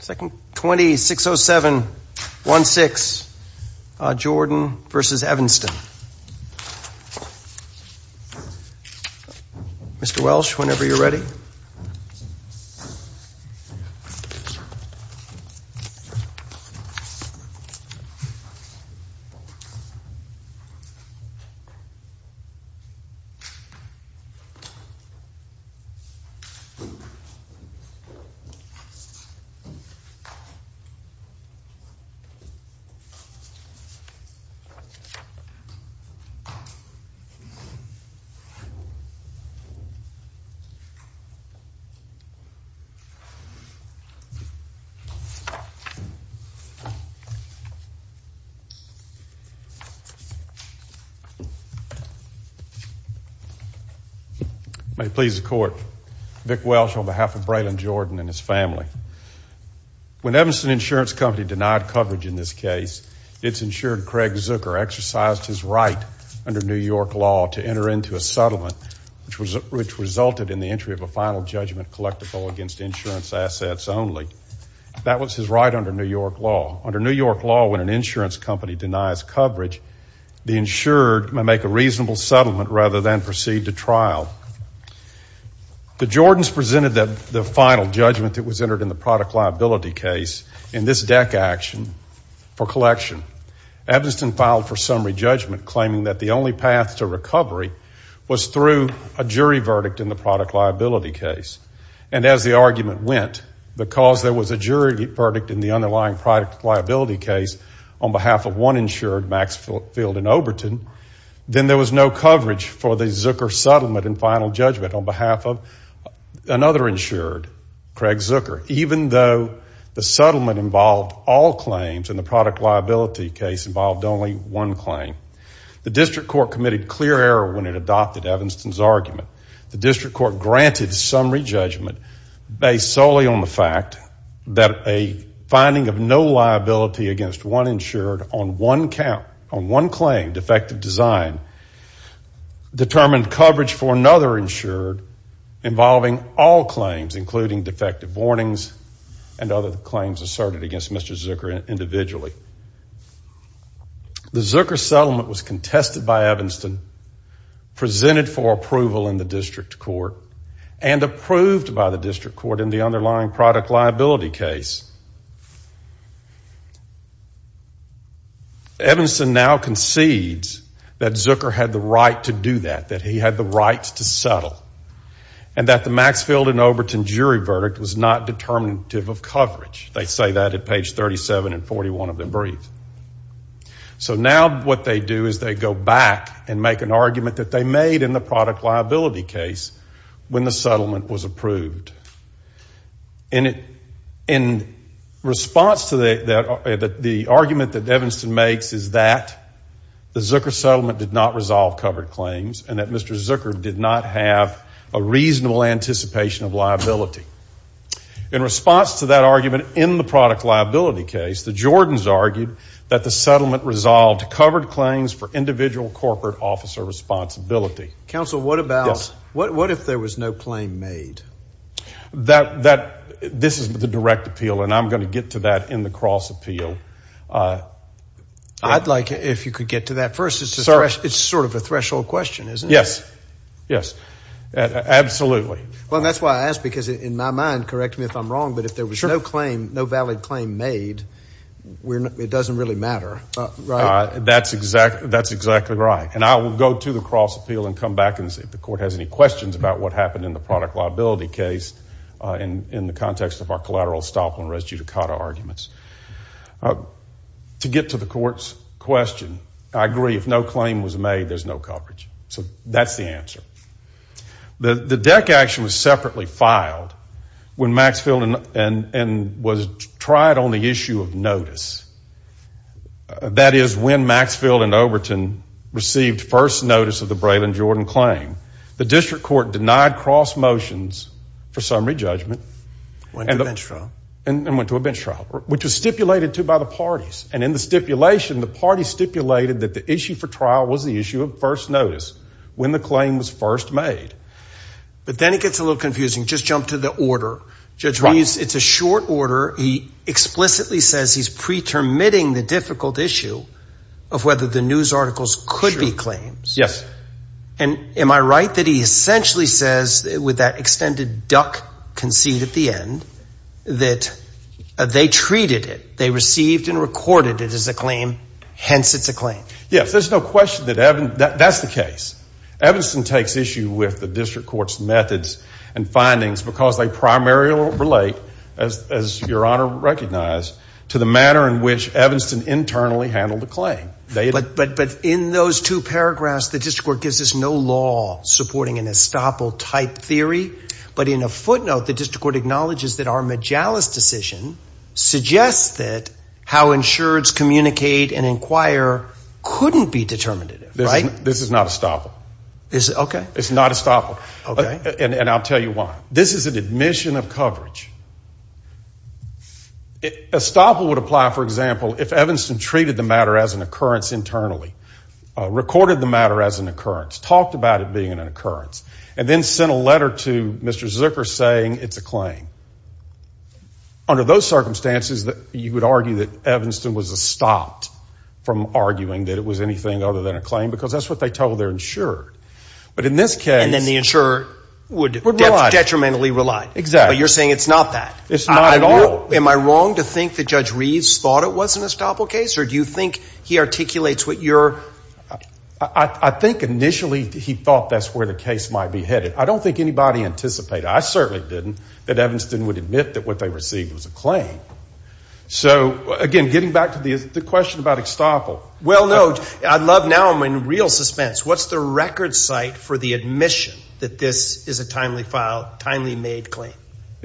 20-607-16, Jordan v. Evanston. Mr. Welsh, whenever you're ready. May it please the court, Vic Welsh on behalf of Braylon Jordan and his family. When Evanston Insurance Company denied coverage in this case, its insured Craig Zucker exercised his right under New York law to enter into a settlement which resulted in the entry of a final judgment collectible against insurance assets only. That was his right under New York law. Under New York law, when an insurance company denies coverage, the insured may make a reasonable settlement rather than proceed to trial. The Jordans presented the final judgment that was entered in the product liability case in this DEC action for collection. Evanston filed for summary judgment claiming that the only path to recovery was through a jury verdict in the product liability case. And as the argument went, because there was a jury verdict in the underlying product liability case on behalf of one insured, Max Field in Oberton, then there was no coverage for the Zucker settlement and final judgment on behalf of another insured, Craig Zucker. Even though the settlement involved all claims and the product liability case involved only one claim, the district court committed clear error when it adopted Evanston's argument. The district court granted summary judgment based solely on the fact that a finding of no liability against one insured on one claim, defective design, determined coverage for another insured involving all claims, including defective warnings and other claims asserted against Mr. Zucker individually. The Zucker settlement was contested by Evanston, presented for approval in the district court, and approved by the district court in the underlying product liability case. Evanston now concedes that Zucker had the right to do that, that he had the right to settle, and that the Max Field and Oberton jury verdict was not determinative of coverage. They say that at page 37 and 41 of their brief. So now what they do is they go back and make an argument that they made in the product liability case when the settlement was approved. In response to the argument that Evanston makes is that the Zucker settlement did not resolve covered claims and that Mr. Zucker did not have a reasonable anticipation of liability. In response to that argument in the product liability case, the Jordans argued that the settlement resolved covered claims for individual corporate officer responsibility. Counsel, what if there was no claim made? This is the direct appeal, and I'm going to get to that in the cross appeal. I'd like if you could get to that first. It's sort of a threshold question, isn't it? Yes, yes, absolutely. Well, that's why I ask, because in my mind, correct me if I'm wrong, but if there was no claim, no valid claim made, it doesn't really matter, right? That's exactly right. And I will go to the cross appeal and come back and see if the court has any questions about what happened in the product liability case in the context of our collateral stop on res judicata arguments. To get to the court's question, I agree, if no claim was made, there's no coverage. So that's the answer. The DEC action was separately filed when Maxfield and was tried on the issue of notice. That is, when Maxfield and Overton received first notice of the Braylon Jordan claim, the district court denied cross motions for summary judgment. Went to a bench trial. And went to a bench trial, which was stipulated, too, by the parties. And in the stipulation, the parties stipulated that the issue for trial was the issue of first notice when the claim was first made. But then it gets a little confusing. Just jump to the order. Judge Ruiz, it's a short order. He explicitly says he's pretermitting the difficult issue of whether the news articles could be claims. Yes. And am I right that he essentially says, with that extended duck concede at the end, that they treated it, they received and recorded it as a claim. Hence, it's a claim. Yes. There's no question that that's the case. Evanston takes issue with the district court's methods and findings because they primarily relate, as Your Honor recognized, to the manner in which Evanston internally handled the claim. But in those two paragraphs, the district court gives us no law supporting an estoppel-type theory. But in a footnote, the district court acknowledges that our Majalis decision suggests that how insureds communicate and inquire couldn't be determinative, right? This is not estoppel. Okay. It's not estoppel. Okay. And I'll tell you why. This is an admission of coverage. Estoppel would apply, for example, if Evanston treated the matter as an occurrence internally, recorded the matter as an occurrence, talked about it being an occurrence, and then sent a letter to Mr. Zucker saying it's a claim. Under those circumstances, you would argue that Evanston was estopped from arguing that it was anything other than a claim because that's what they told their insurer. But in this case — And then the insurer would detrimentally rely. Exactly. But you're saying it's not that. It's not at all. Am I wrong to think that Judge Reeves thought it was an estoppel case? Or do you think he articulates what your — I think initially he thought that's where the case might be headed. I don't think anybody anticipated. I certainly didn't that Evanston would admit that what they received was a claim. So, again, getting back to the question about estoppel. Well, no. Now I'm in real suspense. What's the record site for the admission that this is a timely made claim?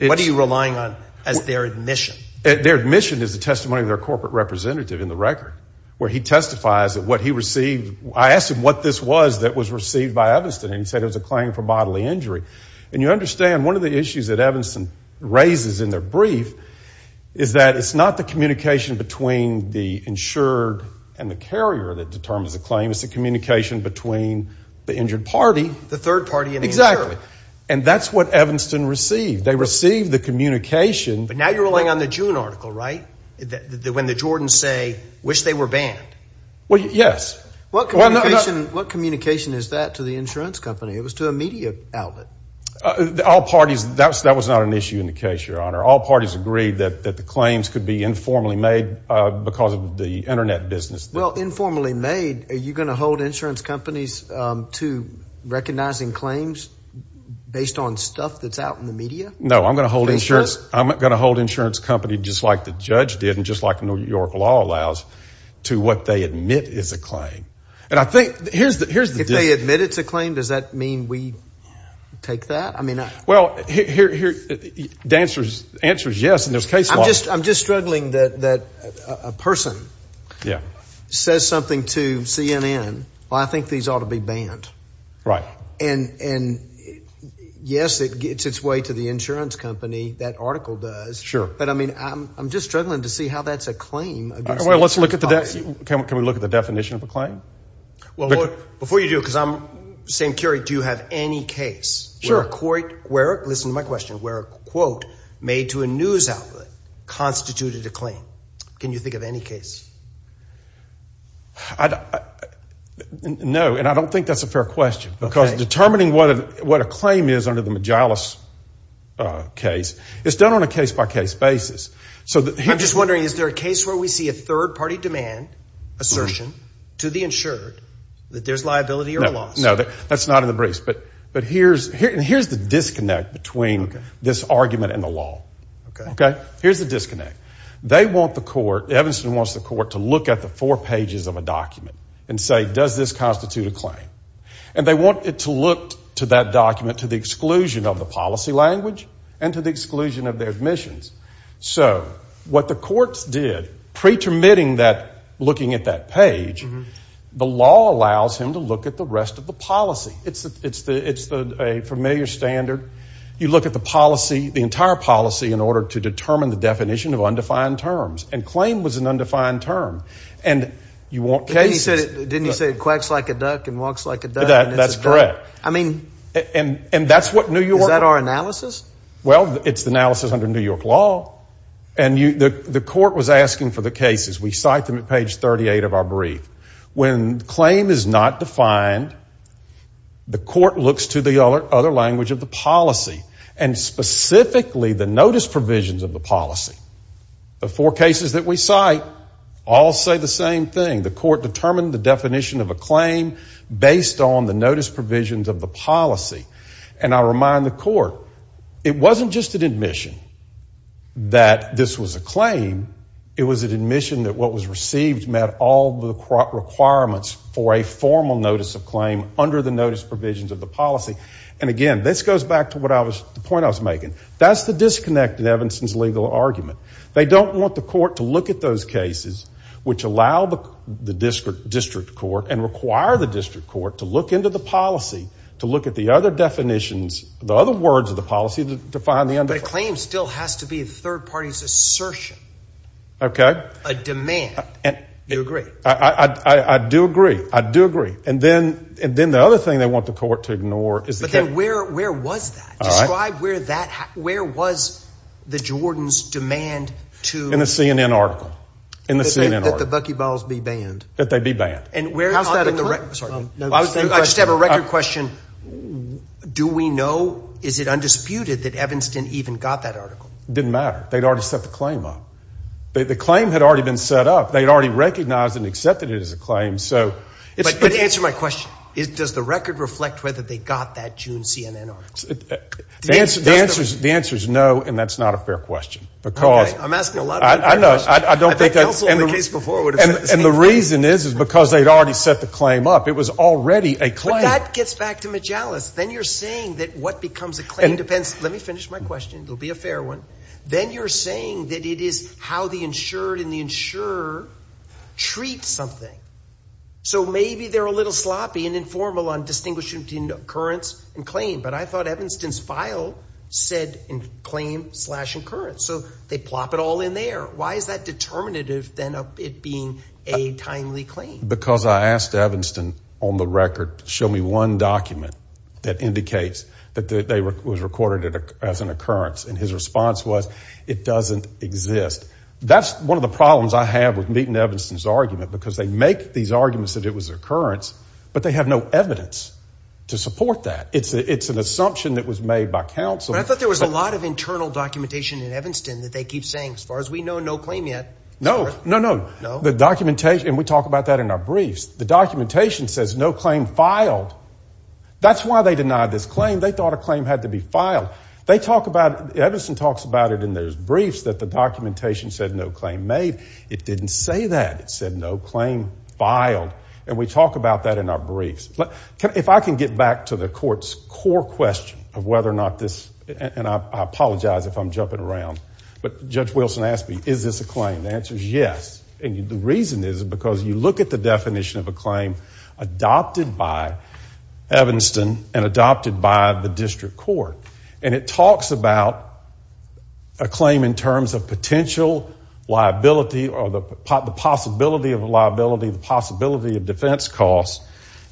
What are you relying on as their admission? Their admission is the testimony of their corporate representative in the record where he testifies that what he received — I asked him what this was that was received by Evanston, and he said it was a claim for bodily injury. And you understand one of the issues that Evanston raises in their brief is that it's not the communication between the insured and the carrier that determines the claim. It's the communication between the injured party. The third party and the insurer. Exactly. And that's what Evanston received. They received the communication. But now you're relying on the June article, right? When the Jordans say, wish they were banned. Well, yes. What communication is that to the insurance company? It was to a media outlet. That was not an issue in the case, Your Honor. All parties agreed that the claims could be informally made because of the Internet business. Well, informally made, are you going to hold insurance companies to recognizing claims based on stuff that's out in the media? No, I'm going to hold insurance companies just like the judge did and just like New York law allows to what they admit is a claim. If they admit it's a claim, does that mean we take that? Well, the answer is yes. I'm just struggling that a person says something to CNN. Well, I think these ought to be banned. Right. And yes, it gets its way to the insurance company. That article does. Sure. But, I mean, I'm just struggling to see how that's a claim. Well, can we look at the definition of a claim? Well, before you do, because I'm saying, Kerry, do you have any case? Sure. Listen to my question. Where a quote made to a news outlet constituted a claim. Can you think of any case? No, and I don't think that's a fair question because determining what a claim is under the Majalis case, it's done on a case-by-case basis. I'm just wondering, is there a case where we see a third-party demand, assertion, to the insured that there's liability or loss? No, that's not in the briefs. But here's the disconnect between this argument and the law. Okay. Here's the disconnect. They want the court, Evanston wants the court, to look at the four pages of a document and say, does this constitute a claim? And they want it to look to that document to the exclusion of the policy language and to the exclusion of their admissions. So what the courts did, pretermitting that looking at that page, the law allows him to look at the rest of the policy. It's a familiar standard. You look at the policy, the entire policy, in order to determine the definition of undefined terms. And claim was an undefined term. Didn't he say it quacks like a duck and walks like a duck? That's correct. I mean, is that our analysis? Well, it's analysis under New York law. And the court was asking for the cases. We cite them at page 38 of our brief. When claim is not defined, the court looks to the other language of the policy, and specifically the notice provisions of the policy. The four cases that we cite all say the same thing. The court determined the definition of a claim based on the notice provisions of the policy. And I remind the court, it wasn't just an admission that this was a claim. It was an admission that what was received met all the requirements for a formal notice of claim under the notice provisions of the policy. And again, this goes back to the point I was making. That's the disconnect in Evanston's legal argument. They don't want the court to look at those cases which allow the district court and require the district court to look into the policy, to look at the other definitions, the other words of the policy to find the undefined. But a claim still has to be a third party's assertion. Okay. A demand. You agree? I do agree. I do agree. And then the other thing they want the court to ignore is the claim. But then where was that? Describe where that – where was the Jordans' demand to – In the CNN article. In the CNN article. That the buckyballs be banned. That they be banned. And where – How's that a claim? I just have a record question. Do we know, is it undisputed that Evanston even got that article? It didn't matter. They'd already set the claim up. They'd already recognized and accepted it as a claim. But answer my question. Does the record reflect whether they got that June CNN article? The answer is no, and that's not a fair question. Because – Okay. I'm asking a lot of unfair questions. I know. I don't think that's – And the reason is because they'd already set the claim up. It was already a claim. But that gets back to Majalis. Then you're saying that what becomes a claim depends – let me finish my question. It'll be a fair one. Then you're saying that it is how the insured and the insurer treat something. So maybe they're a little sloppy and informal on distinguishing between occurrence and claim. But I thought Evanston's file said claim slash occurrence. So they plop it all in there. Why is that determinative then of it being a timely claim? Because I asked Evanston on the record to show me one document that indicates that it was recorded as an occurrence. And his response was it doesn't exist. That's one of the problems I have with meeting Evanston's argument. Because they make these arguments that it was an occurrence, but they have no evidence to support that. It's an assumption that was made by counsel. But I thought there was a lot of internal documentation in Evanston that they keep saying, as far as we know, no claim yet. No. No, no. The documentation – and we talk about that in our briefs. The documentation says no claim filed. That's why they denied this claim. They thought a claim had to be filed. Evanston talks about it in those briefs that the documentation said no claim made. It didn't say that. It said no claim filed. And we talk about that in our briefs. If I can get back to the court's core question of whether or not this – and I apologize if I'm jumping around. But Judge Wilson asked me, is this a claim? The answer is yes. And the reason is because you look at the definition of a claim adopted by Evanston and adopted by the district court. And it talks about a claim in terms of potential liability or the possibility of liability, the possibility of defense costs.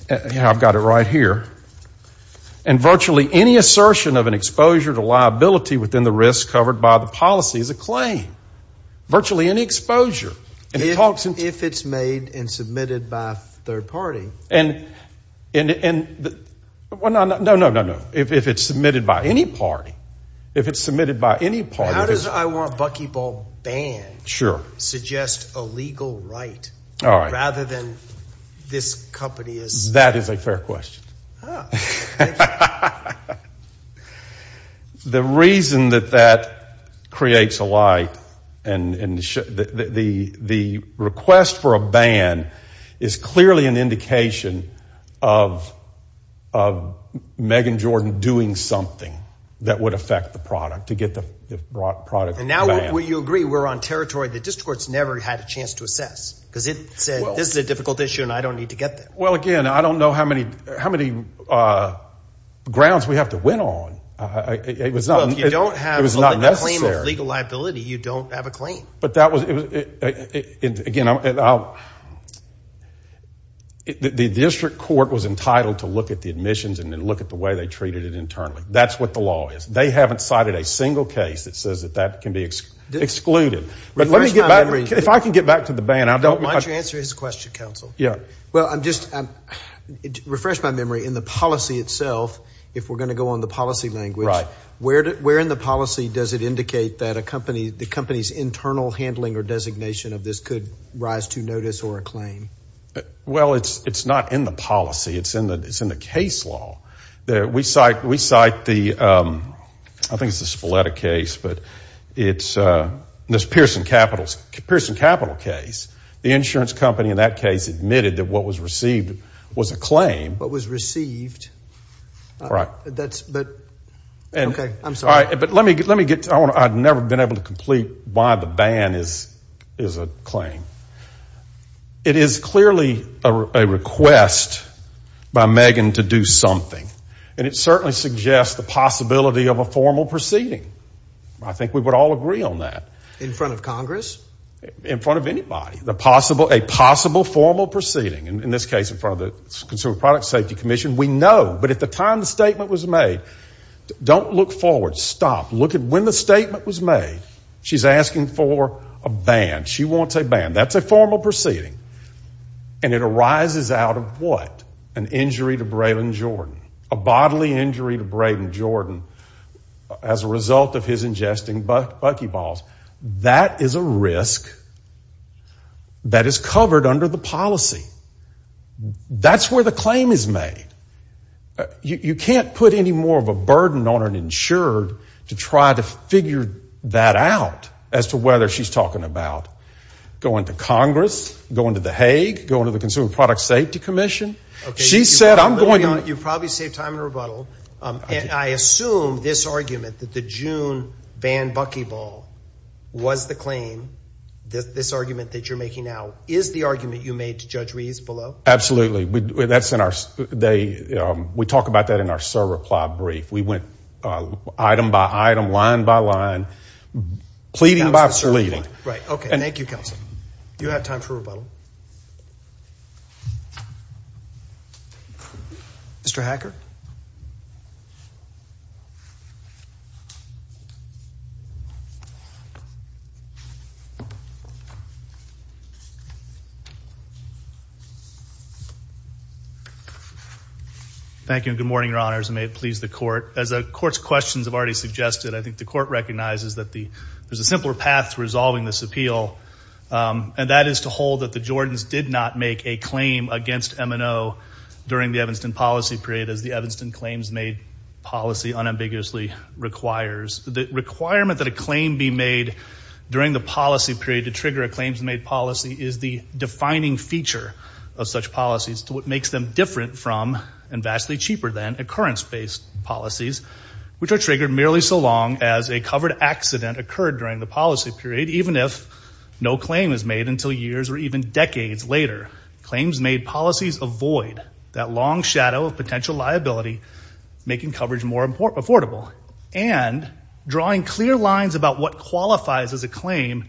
I've got it right here. And virtually any assertion of an exposure to liability within the risk covered by the policy is a claim. Virtually any exposure. And it talks – If it's made and submitted by a third party. And – no, no, no, no. If it's submitted by any party. If it's submitted by any party. How does I Want Buckyball Banned suggest a legal right rather than this company is – That is a fair question. The reason that that creates a lie and the request for a ban is clearly an indication of Megan Jordan doing something that would affect the product, to get the product banned. And now will you agree we're on territory the district court's never had a chance to assess? Because it said this is a difficult issue and I don't need to get there. Well, again, I don't know how many grounds we have to win on. It was not – Well, if you don't have a claim of legal liability, you don't have a claim. But that was – again, I'll – the district court was entitled to look at the admissions and then look at the way they treated it internally. That's what the law is. They haven't cited a single case that says that that can be excluded. But let me get back – if I can get back to the ban, I don't – Why don't you answer his question, counsel? Yeah. Well, I'm just – refresh my memory. In the policy itself, if we're going to go on the policy language, where in the policy does it indicate that a company – the company's internal handling or designation of this could rise to notice or a claim? Well, it's not in the policy. It's in the case law. We cite the – I think it's the Spoletta case, but it's this Pearson Capital case. The insurance company in that case admitted that what was received was a claim. What was received? Right. That's – but – okay. I'm sorry. But let me get – I've never been able to complete why the ban is a claim. It is clearly a request by Megan to do something. And it certainly suggests the possibility of a formal proceeding. I think we would all agree on that. In front of Congress? In front of anybody. The possible – a possible formal proceeding. In this case, in front of the Consumer Product Safety Commission. We know. But at the time the statement was made, don't look forward. Stop. Look at when the statement was made. She's asking for a ban. She wants a ban. That's a formal proceeding. And it arises out of what? An injury to Brayden Jordan. A bodily injury to Brayden Jordan as a result of his ingesting buckyballs. That is a risk that is covered under the policy. That's where the claim is made. You can't put any more of a burden on an insured to try to figure that out as to whether she's talking about going to Congress, going to the Hague, going to the Consumer Product Safety Commission. She said I'm going to – You've probably saved time in rebuttal. And I assume this argument that the June ban buckyball was the claim, this argument that you're making now, is the argument you made to Judge Rees below? Absolutely. That's in our – we talk about that in our server plot brief. We went item by item, line by line. Pleading by pleading. Right. Okay. Thank you, Counsel. You have time for rebuttal. Mr. Hacker? Thank you and good morning, Your Honors, and may it please the Court. As the Court's questions have already suggested, I think the Court recognizes that there's a simpler path to resolving this appeal, and that is to hold that the Jordans did not make a claim against M&O during the Evanston policy period, as the Evanston claims made policy unambiguously requires. The requirement that a claim be made during the policy period to trigger a claims made policy is the defining feature of such policies, to what makes them different from and vastly cheaper than occurrence-based policies, which are triggered merely so long as a covered accident occurred during the policy period, even if no claim is made until years or even decades later. Claims made policies avoid that long shadow of potential liability, making coverage more affordable. And drawing clear lines about what qualifies as a claim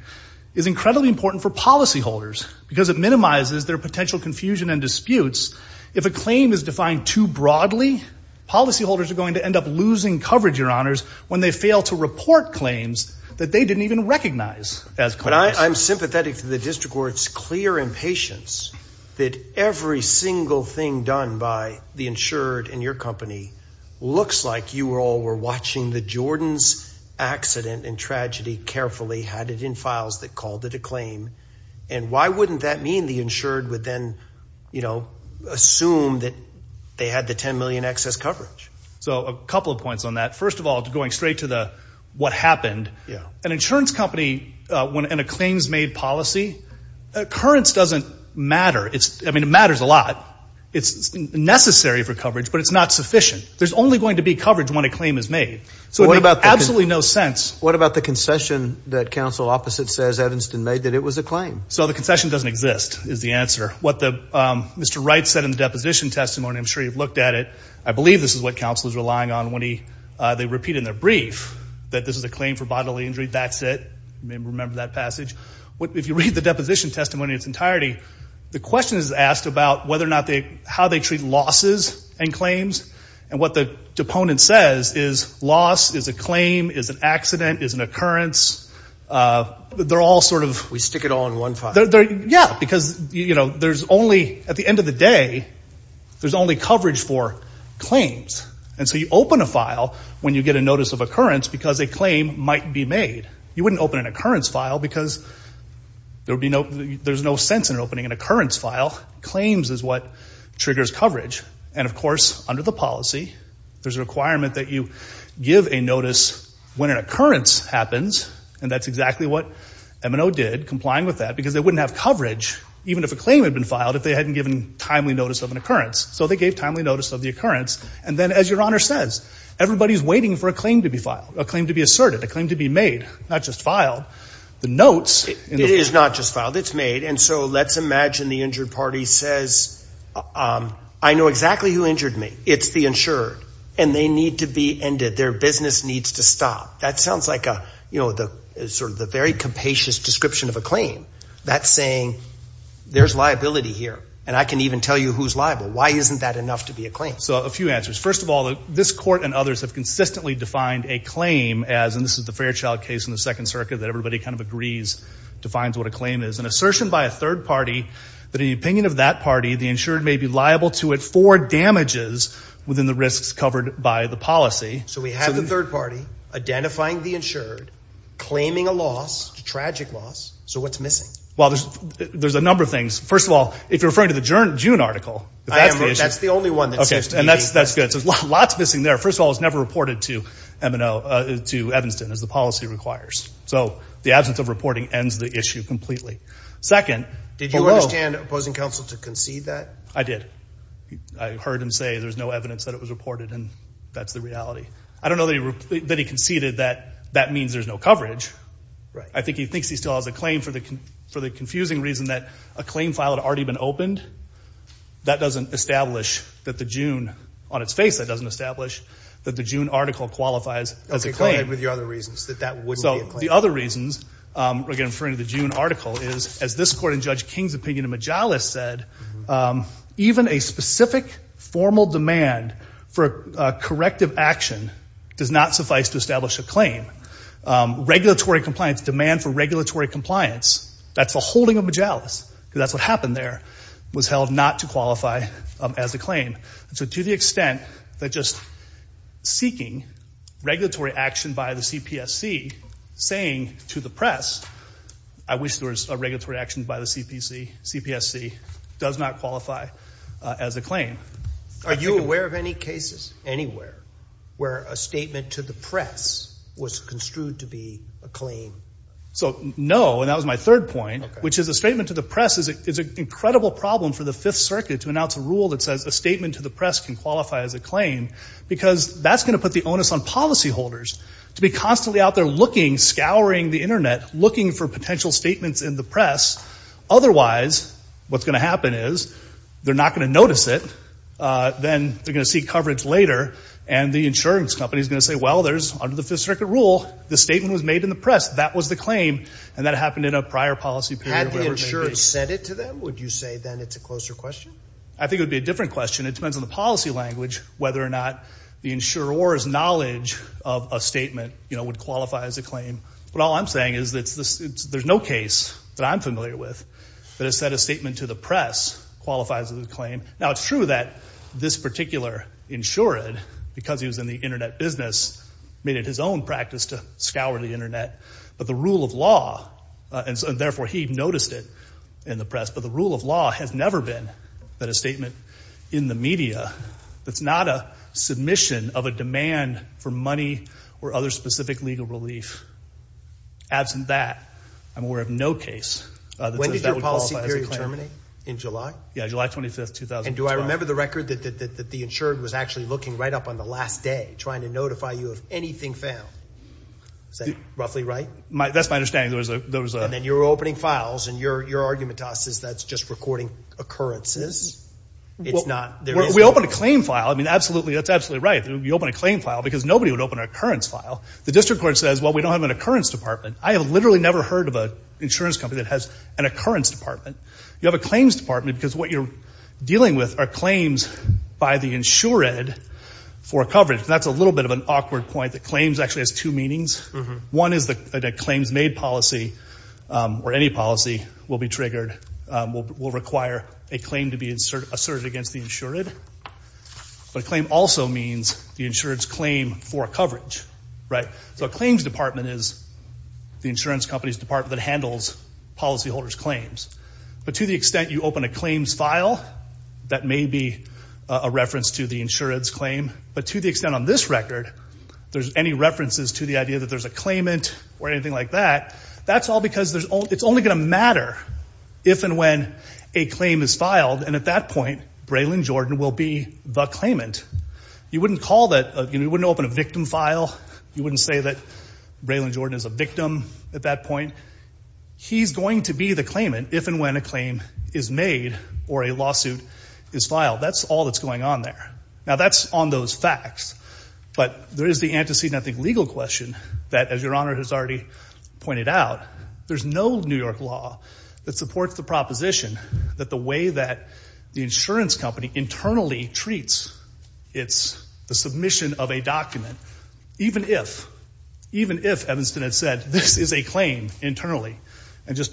is incredibly important for policyholders, because it minimizes their potential confusion and disputes. If a claim is defined too broadly, policyholders are going to end up losing coverage, Your Honors, when they fail to report claims that they didn't even recognize as claims. But I'm sympathetic to the District Court's clear impatience that every single thing done by the insured in your company looks like you all were watching the Jordans accident and tragedy carefully, had it in files that called it a claim, and why wouldn't that mean the insured would then, you know, assume that they had the $10 million excess coverage? So a couple of points on that. First of all, going straight to the what happened, an insurance company in a claims made policy, occurrence doesn't matter. I mean, it matters a lot. It's necessary for coverage, but it's not sufficient. There's only going to be coverage when a claim is made. So it makes absolutely no sense. What about the concession that counsel opposite says Evanston made, that it was a claim? So the concession doesn't exist, is the answer. What Mr. Wright said in the deposition testimony, I'm sure you've looked at it. I believe this is what counsel is relying on when they repeat in their brief that this is a claim for bodily injury. That's it. Remember that passage. If you read the deposition testimony in its entirety, the question is asked about how they treat losses and claims, and what the deponent says is loss is a claim, is an accident, is an occurrence. They're all sort of. We stick it all in one file. Yeah, because there's only, at the end of the day, there's only coverage for claims. And so you open a file when you get a notice of occurrence because a claim might be made. You wouldn't open an occurrence file because there's no sense in opening an occurrence file. Claims is what triggers coverage. And, of course, under the policy, there's a requirement that you give a notice when an occurrence happens, and that's exactly what M&O did, complying with that, because they wouldn't have coverage, even if a claim had been filed, if they hadn't given timely notice of an occurrence. So they gave timely notice of the occurrence. And then, as Your Honor says, everybody's waiting for a claim to be filed, a claim to be asserted, a claim to be made, not just filed. The notes. It is not just filed. It's made. And so let's imagine the injured party says, I know exactly who injured me. It's the insured, and they need to be ended. Their business needs to stop. That sounds like sort of the very capacious description of a claim. That's saying there's liability here, and I can even tell you who's liable. Why isn't that enough to be a claim? So a few answers. First of all, this court and others have consistently defined a claim as, and this is the Fairchild case in the Second Circuit that everybody kind of agrees defines what a claim is, an assertion by a third party that in the opinion of that party, the insured may be liable to it for damages within the risks covered by the policy. So we have the third party identifying the insured, claiming a loss, a tragic loss. So what's missing? Well, there's a number of things. First of all, if you're referring to the June article, that's the issue. That's the only one that's used. And that's good. So there's lots missing there. First of all, it was never reported to Evanston, as the policy requires. So the absence of reporting ends the issue completely. Second. Did you understand opposing counsel to concede that? I did. I heard him say there's no evidence that it was reported, and that's the reality. I don't know that he conceded that that means there's no coverage. I think he thinks he still has a claim for the confusing reason that a claim file had already been opened. That doesn't establish that the June on its face, that doesn't establish that the June article qualifies as a claim. So the other reasons, again, referring to the June article, is as this court in Judge King's opinion in Majalis said, even a specific formal demand for corrective action does not suffice to establish a claim. Regulatory compliance, demand for regulatory compliance, that's the holding of Majalis, because that's what happened there, was held not to qualify as a claim. So to the extent that just seeking regulatory action by the CPSC saying to the press, I wish there was a regulatory action by the CPSC, does not qualify as a claim. Are you aware of any cases anywhere where a statement to the press was construed to be a claim? So, no, and that was my third point, which is a statement to the press is an incredible problem for the Fifth Circuit. A statement to the press can qualify as a claim, because that's going to put the onus on policyholders to be constantly out there looking, scouring the Internet, looking for potential statements in the press. Otherwise, what's going to happen is they're not going to notice it, then they're going to seek coverage later, and the insurance company is going to say, well, there's under the Fifth Circuit rule, the statement was made in the press, that was the claim, and that happened in a prior policy period. Had the insurance said it to them, would you say then it's a closer question? I think it would be a different question. It depends on the policy language whether or not the insurer's knowledge of a statement would qualify as a claim. But all I'm saying is there's no case that I'm familiar with that has said a statement to the press qualifies as a claim. Now, it's true that this particular insured, because he was in the Internet business, made it his own practice to scour the Internet. But the rule of law, and therefore he noticed it in the press, but the rule of law has never been that a statement in the media that's not a submission of a demand for money or other specific legal relief. Absent that, I'm aware of no case that says that would qualify as a claim. When did your policy period terminate? In July? Yeah, July 25, 2012. And do I remember the record that the insured was actually looking right up on the last day, trying to notify you of anything found? Is that roughly right? That's my understanding. And then you're opening files, and your argument to us is that's just recording occurrences. We open a claim file. I mean, absolutely, that's absolutely right. You open a claim file because nobody would open an occurrence file. The district court says, well, we don't have an occurrence department. I have literally never heard of an insurance company that has an occurrence department. You have a claims department because what you're dealing with are claims by the insured for coverage. That's a little bit of an awkward point that claims actually has two meanings. One is that a claims-made policy or any policy will be triggered, will require a claim to be asserted against the insured. But a claim also means the insured's claim for coverage, right? So a claims department is the insurance company's department that handles policyholders' claims. But to the extent you open a claims file, that may be a reference to the insured's claim. But to the extent on this record, there's any references to the idea that there's a claimant or anything like that, that's all because it's only going to matter if and when a claim is filed. And at that point, Braylon Jordan will be the claimant. You wouldn't call that, you know, you wouldn't open a victim file. You wouldn't say that Braylon Jordan is a victim at that point. He's going to be the claimant if and when a claim is made or a lawsuit is filed. That's all that's going on there. Now, that's on those facts. But there is the antecedent, I think, legal question that, as Your Honor has already pointed out, there's no New York law that supports the proposition that the way that the insurance company internally treats its submission of a document, even if, even if Evanston had said, this is a claim internally and just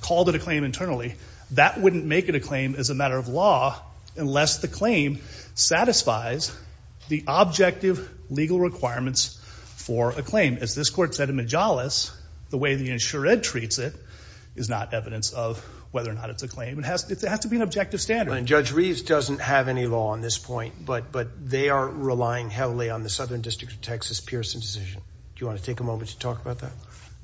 called it a claim internally, that wouldn't make it a claim as a matter of law unless the claim satisfies the objective legal requirements for a claim. As this court said in Majalis, the way the insurance treats it is not evidence of whether or not it's a claim. It has to be an objective standard. And Judge Reeves doesn't have any law on this point, but they are relying heavily on the Southern District of Texas Pearson decision. Do you want to take a moment to talk about that?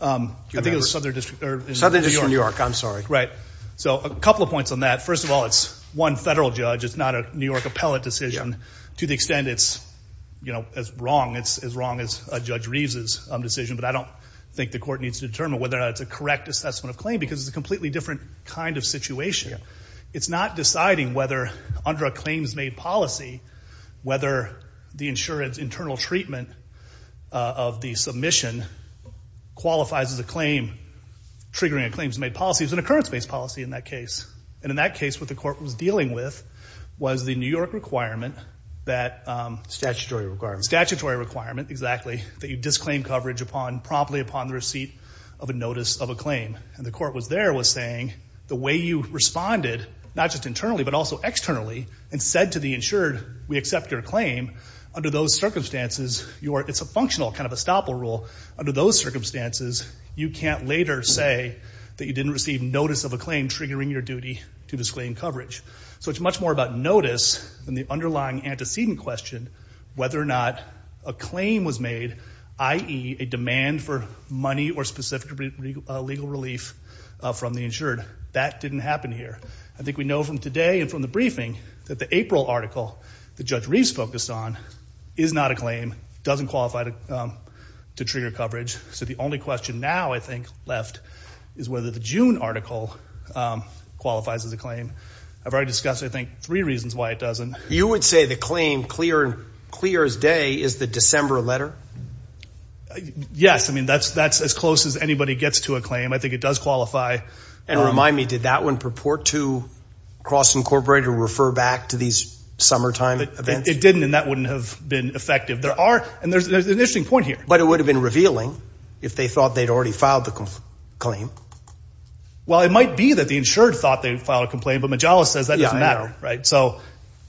I think it was Southern District. Southern District of New York. I'm sorry. Southern District of New York. Right. So a couple of points on that. First of all, it's one federal judge. It's not a New York appellate decision to the extent it's, you know, as wrong, it's as wrong as Judge Reeves' decision. But I don't think the court needs to determine whether or not it's a correct assessment of claim because it's a completely different kind of situation. It's not deciding whether under a claims-made policy, whether the insurance internal treatment of the submission qualifies as a claims-based policy in that case. And in that case what the court was dealing with was the New York requirement that. Statutory requirement. Statutory requirement, exactly, that you disclaim coverage upon promptly upon the receipt of a notice of a claim. And the court was there was saying the way you responded, not just internally but also externally, and said to the insured we accept your claim, under those circumstances it's a functional kind of estoppel rule. Under those circumstances you can't later say that you didn't receive notice of a claim triggering your duty to disclaim coverage. So it's much more about notice than the underlying antecedent question, whether or not a claim was made, i.e., a demand for money or specific legal relief from the insured. That didn't happen here. I think we know from today and from the briefing that the April article that Judge Reeves focused on is not a claim, doesn't qualify to trigger coverage. So the only question now, I think, left is whether the June article qualifies as a claim. I've already discussed, I think, three reasons why it doesn't. You would say the claim clear as day is the December letter? Yes. I mean that's as close as anybody gets to a claim. I think it does qualify. And remind me, did that one purport to cross incorporate or refer back to these summertime events? It didn't, and that wouldn't have been effective. There are, and there's an interesting point here. But it would have been revealing if they thought they'd already filed the claim. Well, it might be that the insured thought they'd file a complaint, but Majalis says that doesn't matter, right? So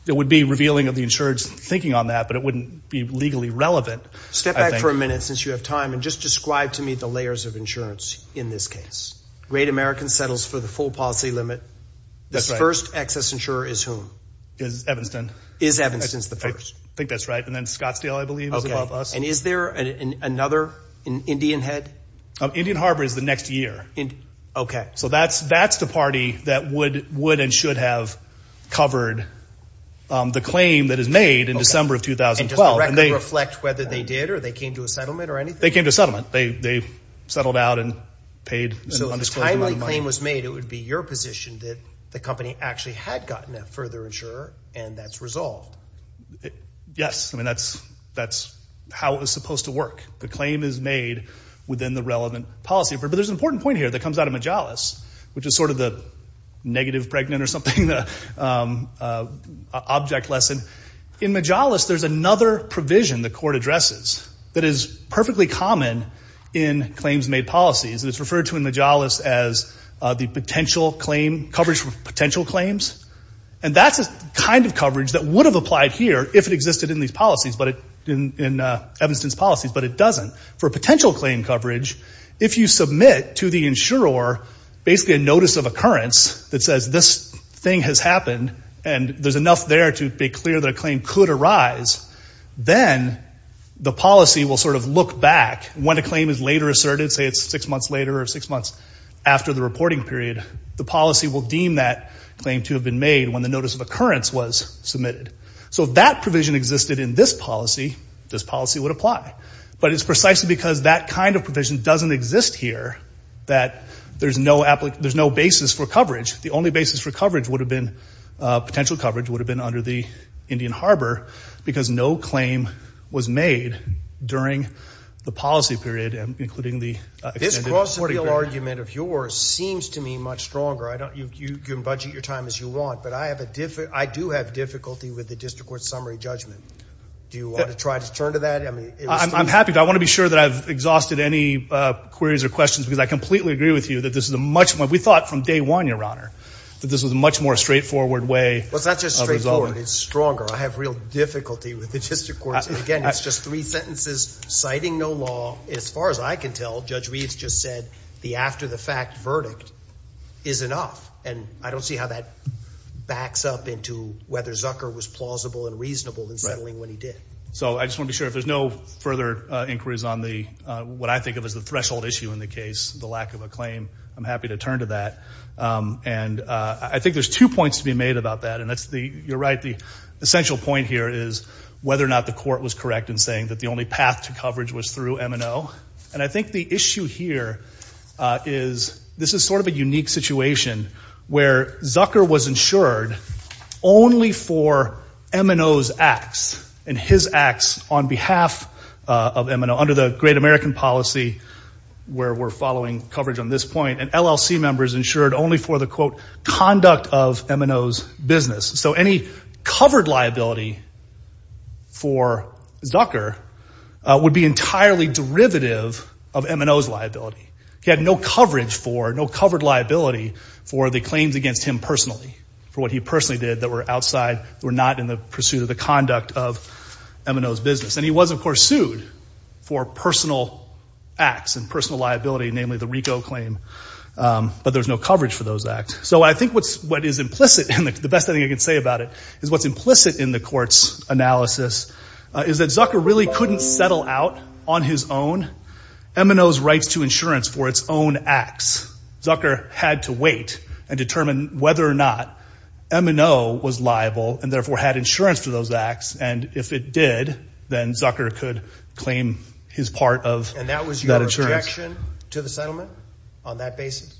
it would be revealing of the insured's thinking on that, but it wouldn't be legally relevant. Step back for a minute since you have time and just describe to me the layers of insurance in this case. Great American settles for the full policy limit. This first excess insurer is whom? Is Evanston. Is Evanston's the first? I think that's right. And then Scottsdale, I believe, is above us. And is there another Indian head? Indian Harbor is the next year. Okay. So that's the party that would and should have covered the claim that is made in December of 2012. And does the record reflect whether they did or they came to a settlement or anything? They came to a settlement. They settled out and paid. So if a timely claim was made, it would be your position that the company actually had gotten a further insurer and that's resolved. Yes. I mean, that's how it was supposed to work. The claim is made within the relevant policy. But there's an important point here that comes out of Majalis, which is sort of the negative pregnant or something, the object lesson. In Majalis, there's another provision the court addresses that is perfectly common in claims made policies. And it's referred to in Majalis as the potential claim, coverage for potential claims. And that's the kind of coverage that would have applied here if it existed in these policies, in Evanston's policies. But it doesn't. For potential claim coverage, if you submit to the insurer basically a notice of occurrence that says this thing has happened and there's enough there to be clear that a claim could arise, then the policy will sort of look back. When a claim is later asserted, say it's six months later or six months after the reporting period, the policy will deem that claim to have been made when the notice of occurrence was submitted. So if that provision existed in this policy, this policy would apply. But it's precisely because that kind of provision doesn't exist here that there's no basis for coverage. The only basis for coverage would have been, potential coverage would have been under the Indian Harbor because no claim was made during the policy period, including the extended reporting period. This Cross the Field argument of yours seems to me much stronger. You can budget your time as you want. But I do have difficulty with the district court summary judgment. Do you want to try to turn to that? I'm happy to. I want to be sure that I've exhausted any queries or questions because I completely agree with you that this is a much more, we thought from day one, Your Honor, that this was a much more straightforward way of resolving. Well, it's not just straightforward. It's stronger. I have real difficulty with the district courts. And again, it's just three sentences citing no law. As far as I can tell, Judge Reeves just said the after the fact verdict is enough. And I don't see how that backs up into whether Zucker was plausible and reasonable in settling when he did. So I just want to be sure if there's no further inquiries on the, what I think of as the threshold issue in the case, the lack of a claim, I'm happy to turn to that. And I think there's two points to be made about that. And that's the, you're right. The essential point here is whether or not the court was correct in saying that the only path to coverage was through MNO. And I think the issue here is, this is sort of a unique situation where Zucker was insured only for MNO's acts and his acts on behalf of MNO, under the great American policy where we're following coverage on this point and LLC members insured only for the quote conduct of MNO's business. So any covered liability for Zucker would be entirely derivative of MNO's liability. He had no coverage for, no covered liability, for the claims against him personally, for what he personally did that were outside, were not in the pursuit of the conduct of MNO's business. And he was, of course, sued for personal acts and personal liability, namely the RICO claim, but there's no coverage for those acts. So I think what's, what is implicit, the best thing I can say about it is what's implicit in the court's analysis is that Zucker really couldn't settle out on his own MNO's rights to insurance for its own acts. Zucker had to wait and determine whether or not MNO was liable and therefore had insurance for those acts. And if it did, then Zucker could claim his part of that insurance. And that was your objection to the settlement on that basis?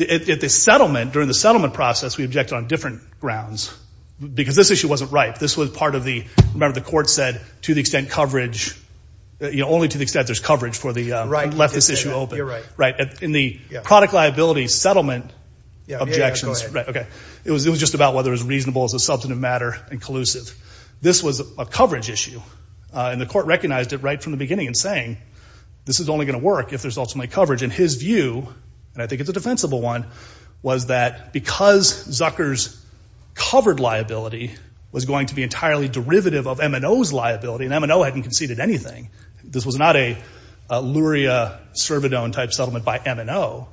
At the settlement, during the settlement process, we objected on different grounds because this issue wasn't right. This was part of the, remember the court said to the extent coverage, only to the extent there's coverage for the, left this issue open. In the product liability settlement objections, it was just about whether it was reasonable as a substantive matter and collusive. This was a coverage issue. And the court recognized it right from the beginning in saying, this is only going to work if there's ultimately coverage. And his view, and I think it's a defensible one, was that because Zucker's covered liability was going to be entirely derivative of MNO's liability, and MNO hadn't conceded anything. This was not a Luria-Cervidone type settlement by MNO.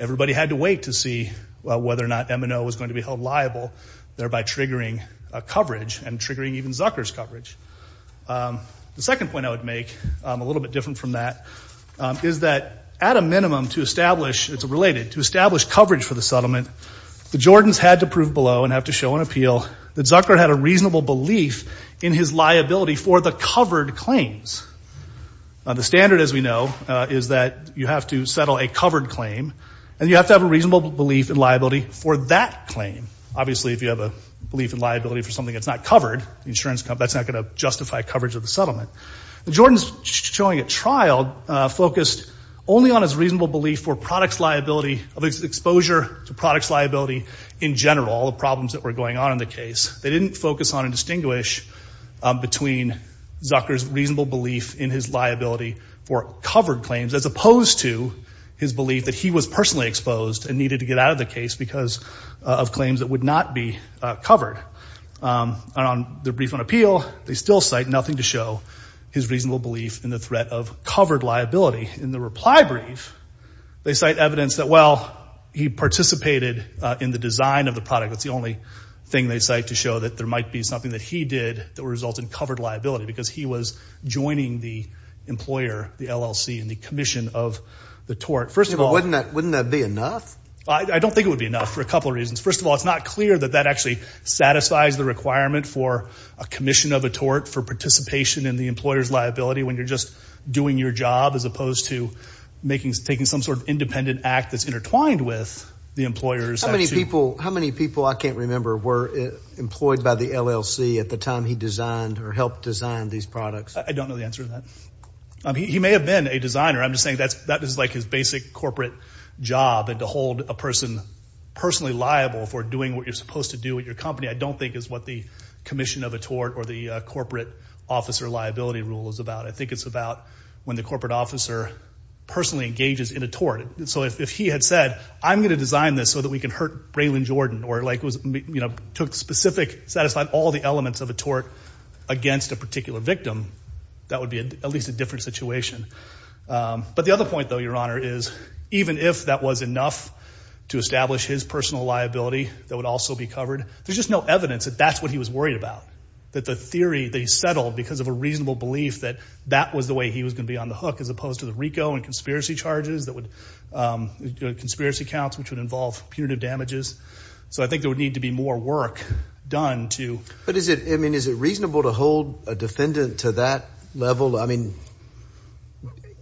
Everybody had to wait to see whether or not MNO was going to be held liable, thereby triggering coverage and triggering even Zucker's coverage. The second point I would make, a little bit different from that, is that at a minimum to establish, it's related, to establish coverage for the settlement, the Jordans had to prove below and have to show an appeal that Zucker had a reasonable belief in his liability for the covered claims. The standard, as we know, is that you have to settle a covered claim, and you have to have a reasonable belief in liability for that claim. Obviously, if you have a belief in liability for something that's not covered, that's not going to justify coverage of the settlement. The Jordans showing a trial focused only on his reasonable belief for products liability, of his exposure to products liability in general, all the problems that were going on in the case. They didn't focus on and distinguish between Zucker's reasonable belief in his liability for covered claims, as opposed to his belief that he was personally exposed and needed to get out of the case because of claims that would not be covered. On the brief on appeal, they still cite nothing to show his reasonable belief in the threat of covered liability. In the reply brief, they cite evidence that, well, he participated in the design of the product. That's the only thing they cite to show that there might be something that he did that would result in covered liability, because he was joining the employer, the LLC, in the commission of the tort. First of all... Wouldn't that be enough? I don't think it would be enough for a couple of reasons. First of all, it's not clear that that actually satisfies the requirement for a commission of a tort for participation in the employer's liability when you're just doing your job, as opposed to taking some sort of independent act that's intertwined with the employer's. How many people, I can't remember, were employed by the LLC at the time he designed or helped design these products? I don't know the answer to that. He may have been a designer. I'm just saying that is like his basic corporate job, and to hold a person personally liable for doing what you're supposed to do at your company, I don't think is what the commission of a tort or the corporate officer liability rule is about. I think it's about when the corporate officer personally engages in a tort. So if he had said, I'm going to design this so that we can hurt Braylon Jordan, or took specific, satisfied all the elements of a tort against a particular victim, that would be at least a different situation. But the other point, though, Your Honor, is even if that was enough to establish his personal liability that would also be covered, there's just no evidence that that's what he was worried about, that the theory that he settled because of a reasonable belief that that was the way he was going to be on the hook, as opposed to the RICO and conspiracy charges that would, conspiracy counts which would involve punitive damages. So I think there would need to be more work done to. But is it, I mean, is it reasonable to hold a defendant to that level? I mean,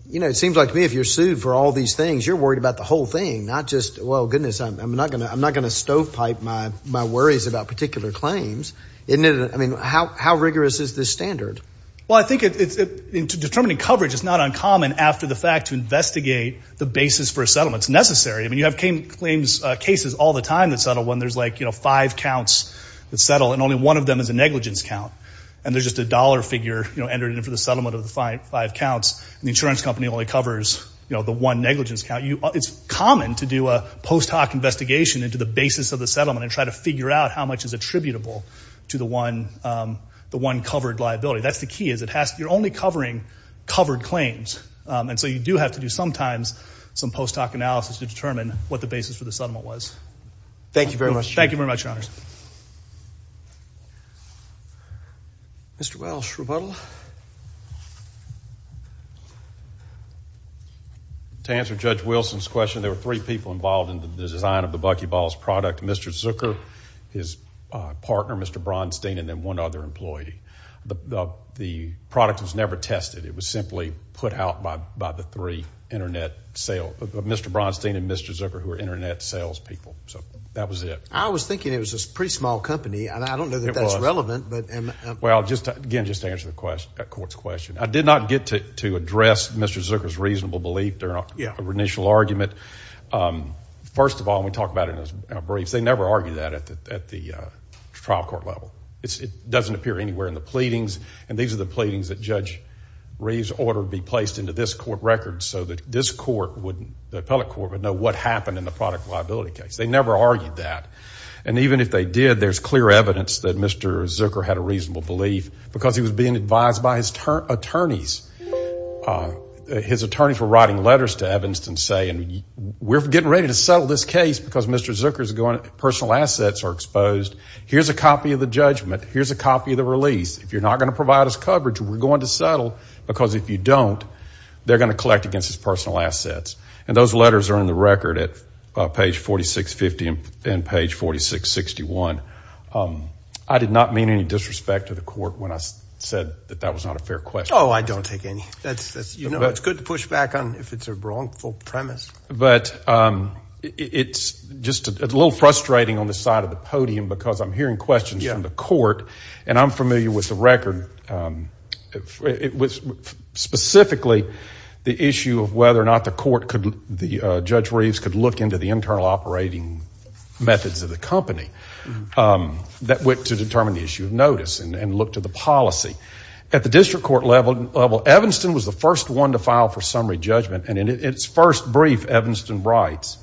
you know, it seems like to me if you're sued for all these things, you're worried about the whole thing, not just, well, goodness, I'm not going to stovepipe my worries about particular claims. I mean, how rigorous is this standard? Well, I think determining coverage is not uncommon after the fact to investigate the basis for a settlement. It's necessary. I mean, you have claims, cases all the time that settle when there's like, you know, five counts that settle and only one of them is a negligence count. And there's just a dollar figure, you know, entered in for the settlement of the five counts. And the insurance company only covers, you know, the one negligence count. It's common to do a post hoc investigation into the basis of the settlement and try to figure out how much is attributable to the one, the one covered liability. That's the key is it has, you're only covering covered claims. And so you do have to do sometimes some post hoc analysis to determine what the basis for the settlement was. Thank you very much, Your Honors. Thank you very much, Your Honors. Mr. Welsh, rebuttal. To answer Judge Wilson's question, there were three people involved in the design of the Buckyballs product, Mr. Zucker, his partner, Mr. Bronstein, and then one other employee. The product was never tested. It was simply put out by the three Internet sales, Mr. Bronstein and Mr. Zucker, who are Internet sales people. So that was it. I was thinking it was a pretty small company. I don't know that that's relevant. Well, again, just to answer the court's question, I did not get to address Mr. Zucker's reasonable belief during our initial argument. First of all, and we talked about it in our briefs, they never argue that at the trial court level. It doesn't appear anywhere in the pleadings. And these are the pleadings that Judge Reeves ordered be placed into this court record so that this court, the appellate court, would know what happened in the product liability case. They never argued that. And even if they did, there's clear evidence that Mr. Zucker had a reasonable belief because he was being advised by his attorneys. His attorneys were writing letters to Evanston saying, we're getting ready to settle this case because Mr. Zucker's personal assets are exposed. Here's a copy of the judgment. Here's a copy of the release. If you're not going to provide us coverage, we're going to settle. Because if you don't, they're going to collect against his personal assets. And those letters are in the record at page 4650 and page 4661. I did not mean any disrespect to the court when I said that that was not a fair question. Oh, I don't take any. You know, it's good to push back if it's a wrongful premise. But it's just a little frustrating on the side of the podium because I'm hearing questions from the court, and I'm familiar with the record, specifically the issue of whether or not the court, Judge Reeves, could look into the internal operating methods of the company that went to determine the issue of notice and look to the policy. At the district court level, Evanston was the first one to file for summary judgment, and in its first brief, Evanston writes,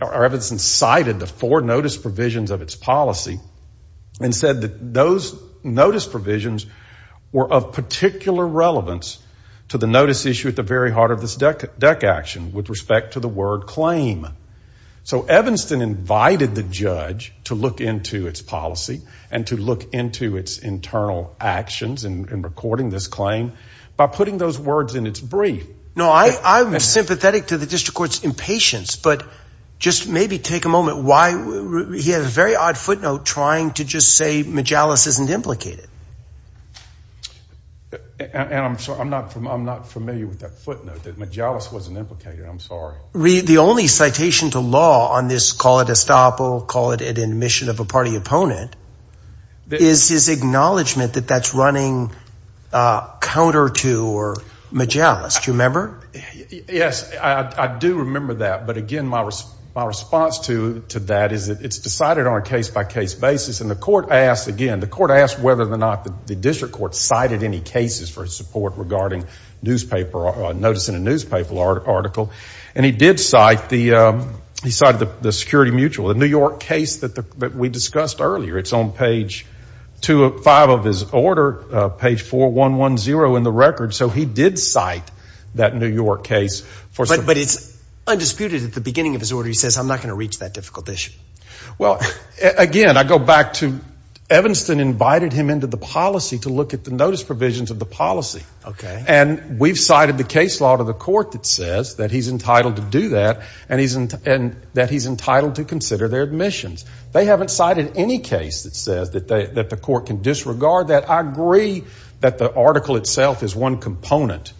or Evanston cited the four notice provisions of its policy and said that those notice provisions were of particular relevance to the notice issue at the very heart of this DEC action with respect to the word claim. So Evanston invited the judge to look into its policy and to look into its internal actions in recording this claim by putting those words in its brief. No, I'm sympathetic to the district court's impatience, but just maybe take a moment. He has a very odd footnote trying to just say Majalis isn't implicated. And I'm not familiar with that footnote, that Majalis wasn't implicated. I'm sorry. Reed, the only citation to law on this, call it estoppel, call it an admission of a party opponent, is his acknowledgment that that's running counter to Majalis. Do you remember? Yes, I do remember that. But again, my response to that is it's decided on a case-by-case basis. And the court asked, again, the court asked whether or not the district court cited any cases for its support regarding notice in a newspaper article. And he did cite the security mutual, the New York case that we discussed earlier. It's on page five of his order, page 4110 in the record. So he did cite that New York case. But it's undisputed at the beginning of his order he says I'm not going to reach that difficult issue. Well, again, I go back to Evanston invited him into the policy to look at the notice provisions of the policy. And we've cited the case law to the court that says that he's entitled to do that and that he's entitled to consider their admissions. They haven't cited any case that says that the court can disregard that. I agree that the article itself is one component.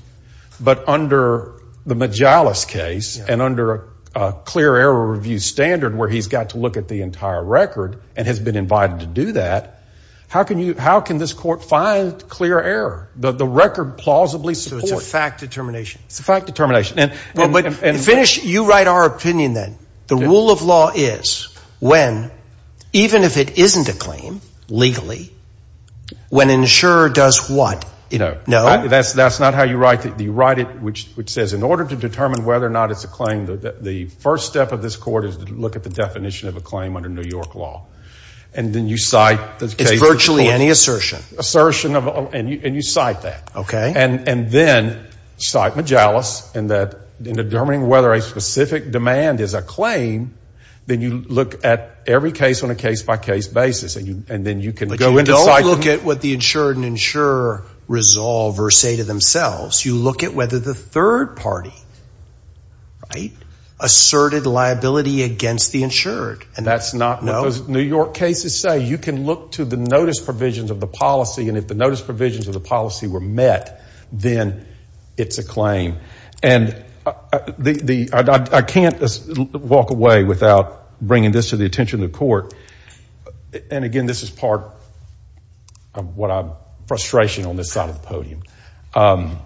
But under the Majalis case and under a clear error review standard where he's got to look at the entire record and has been invited to do that, how can this court find clear error? The record plausibly supports. So it's a fact determination. It's a fact determination. But finish, you write our opinion then. The rule of law is when, even if it isn't a claim legally, when an insurer does what? No. That's not how you write it. You write it which says in order to determine whether or not it's a claim, the first step of this court is to look at the definition of a claim under New York law. And then you cite the case. It's virtually any assertion. And you cite that. Okay. And then cite Majalis in determining whether a specific demand is a claim, then you look at every case on a case-by-case basis. But you don't look at what the insured and insurer resolve or say to themselves. You look at whether the third party asserted liability against the insured. That's not what those New York cases say. You can look to the notice provisions of the policy, and if the notice provisions of the policy were met, then it's a claim. And I can't walk away without bringing this to the attention of the court. And, again, this is part of what I'm frustration on this side of the podium. The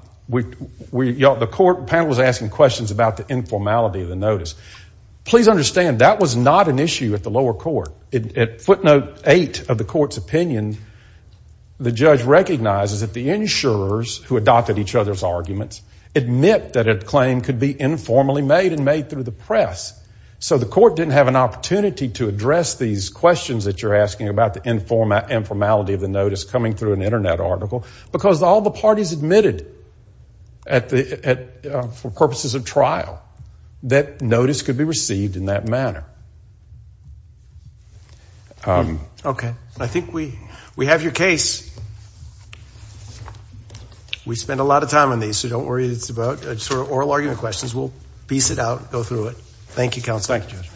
court panel was asking questions about the informality of the notice. Please understand that was not an issue at the lower court. At footnote eight of the court's opinion, the judge recognizes that the insurers who adopted each other's arguments admit that a claim could be informally made and made through the press. So the court didn't have an opportunity to address these questions that you're asking about the informality of the notice coming through an Internet article because all the parties admitted for purposes of trial that notice could be received in that manner. Okay. I think we have your case. We spent a lot of time on these, so don't worry. It's about sort of oral argument questions. We'll piece it out, go through it. Thank you, counsel. Thank you, Judge.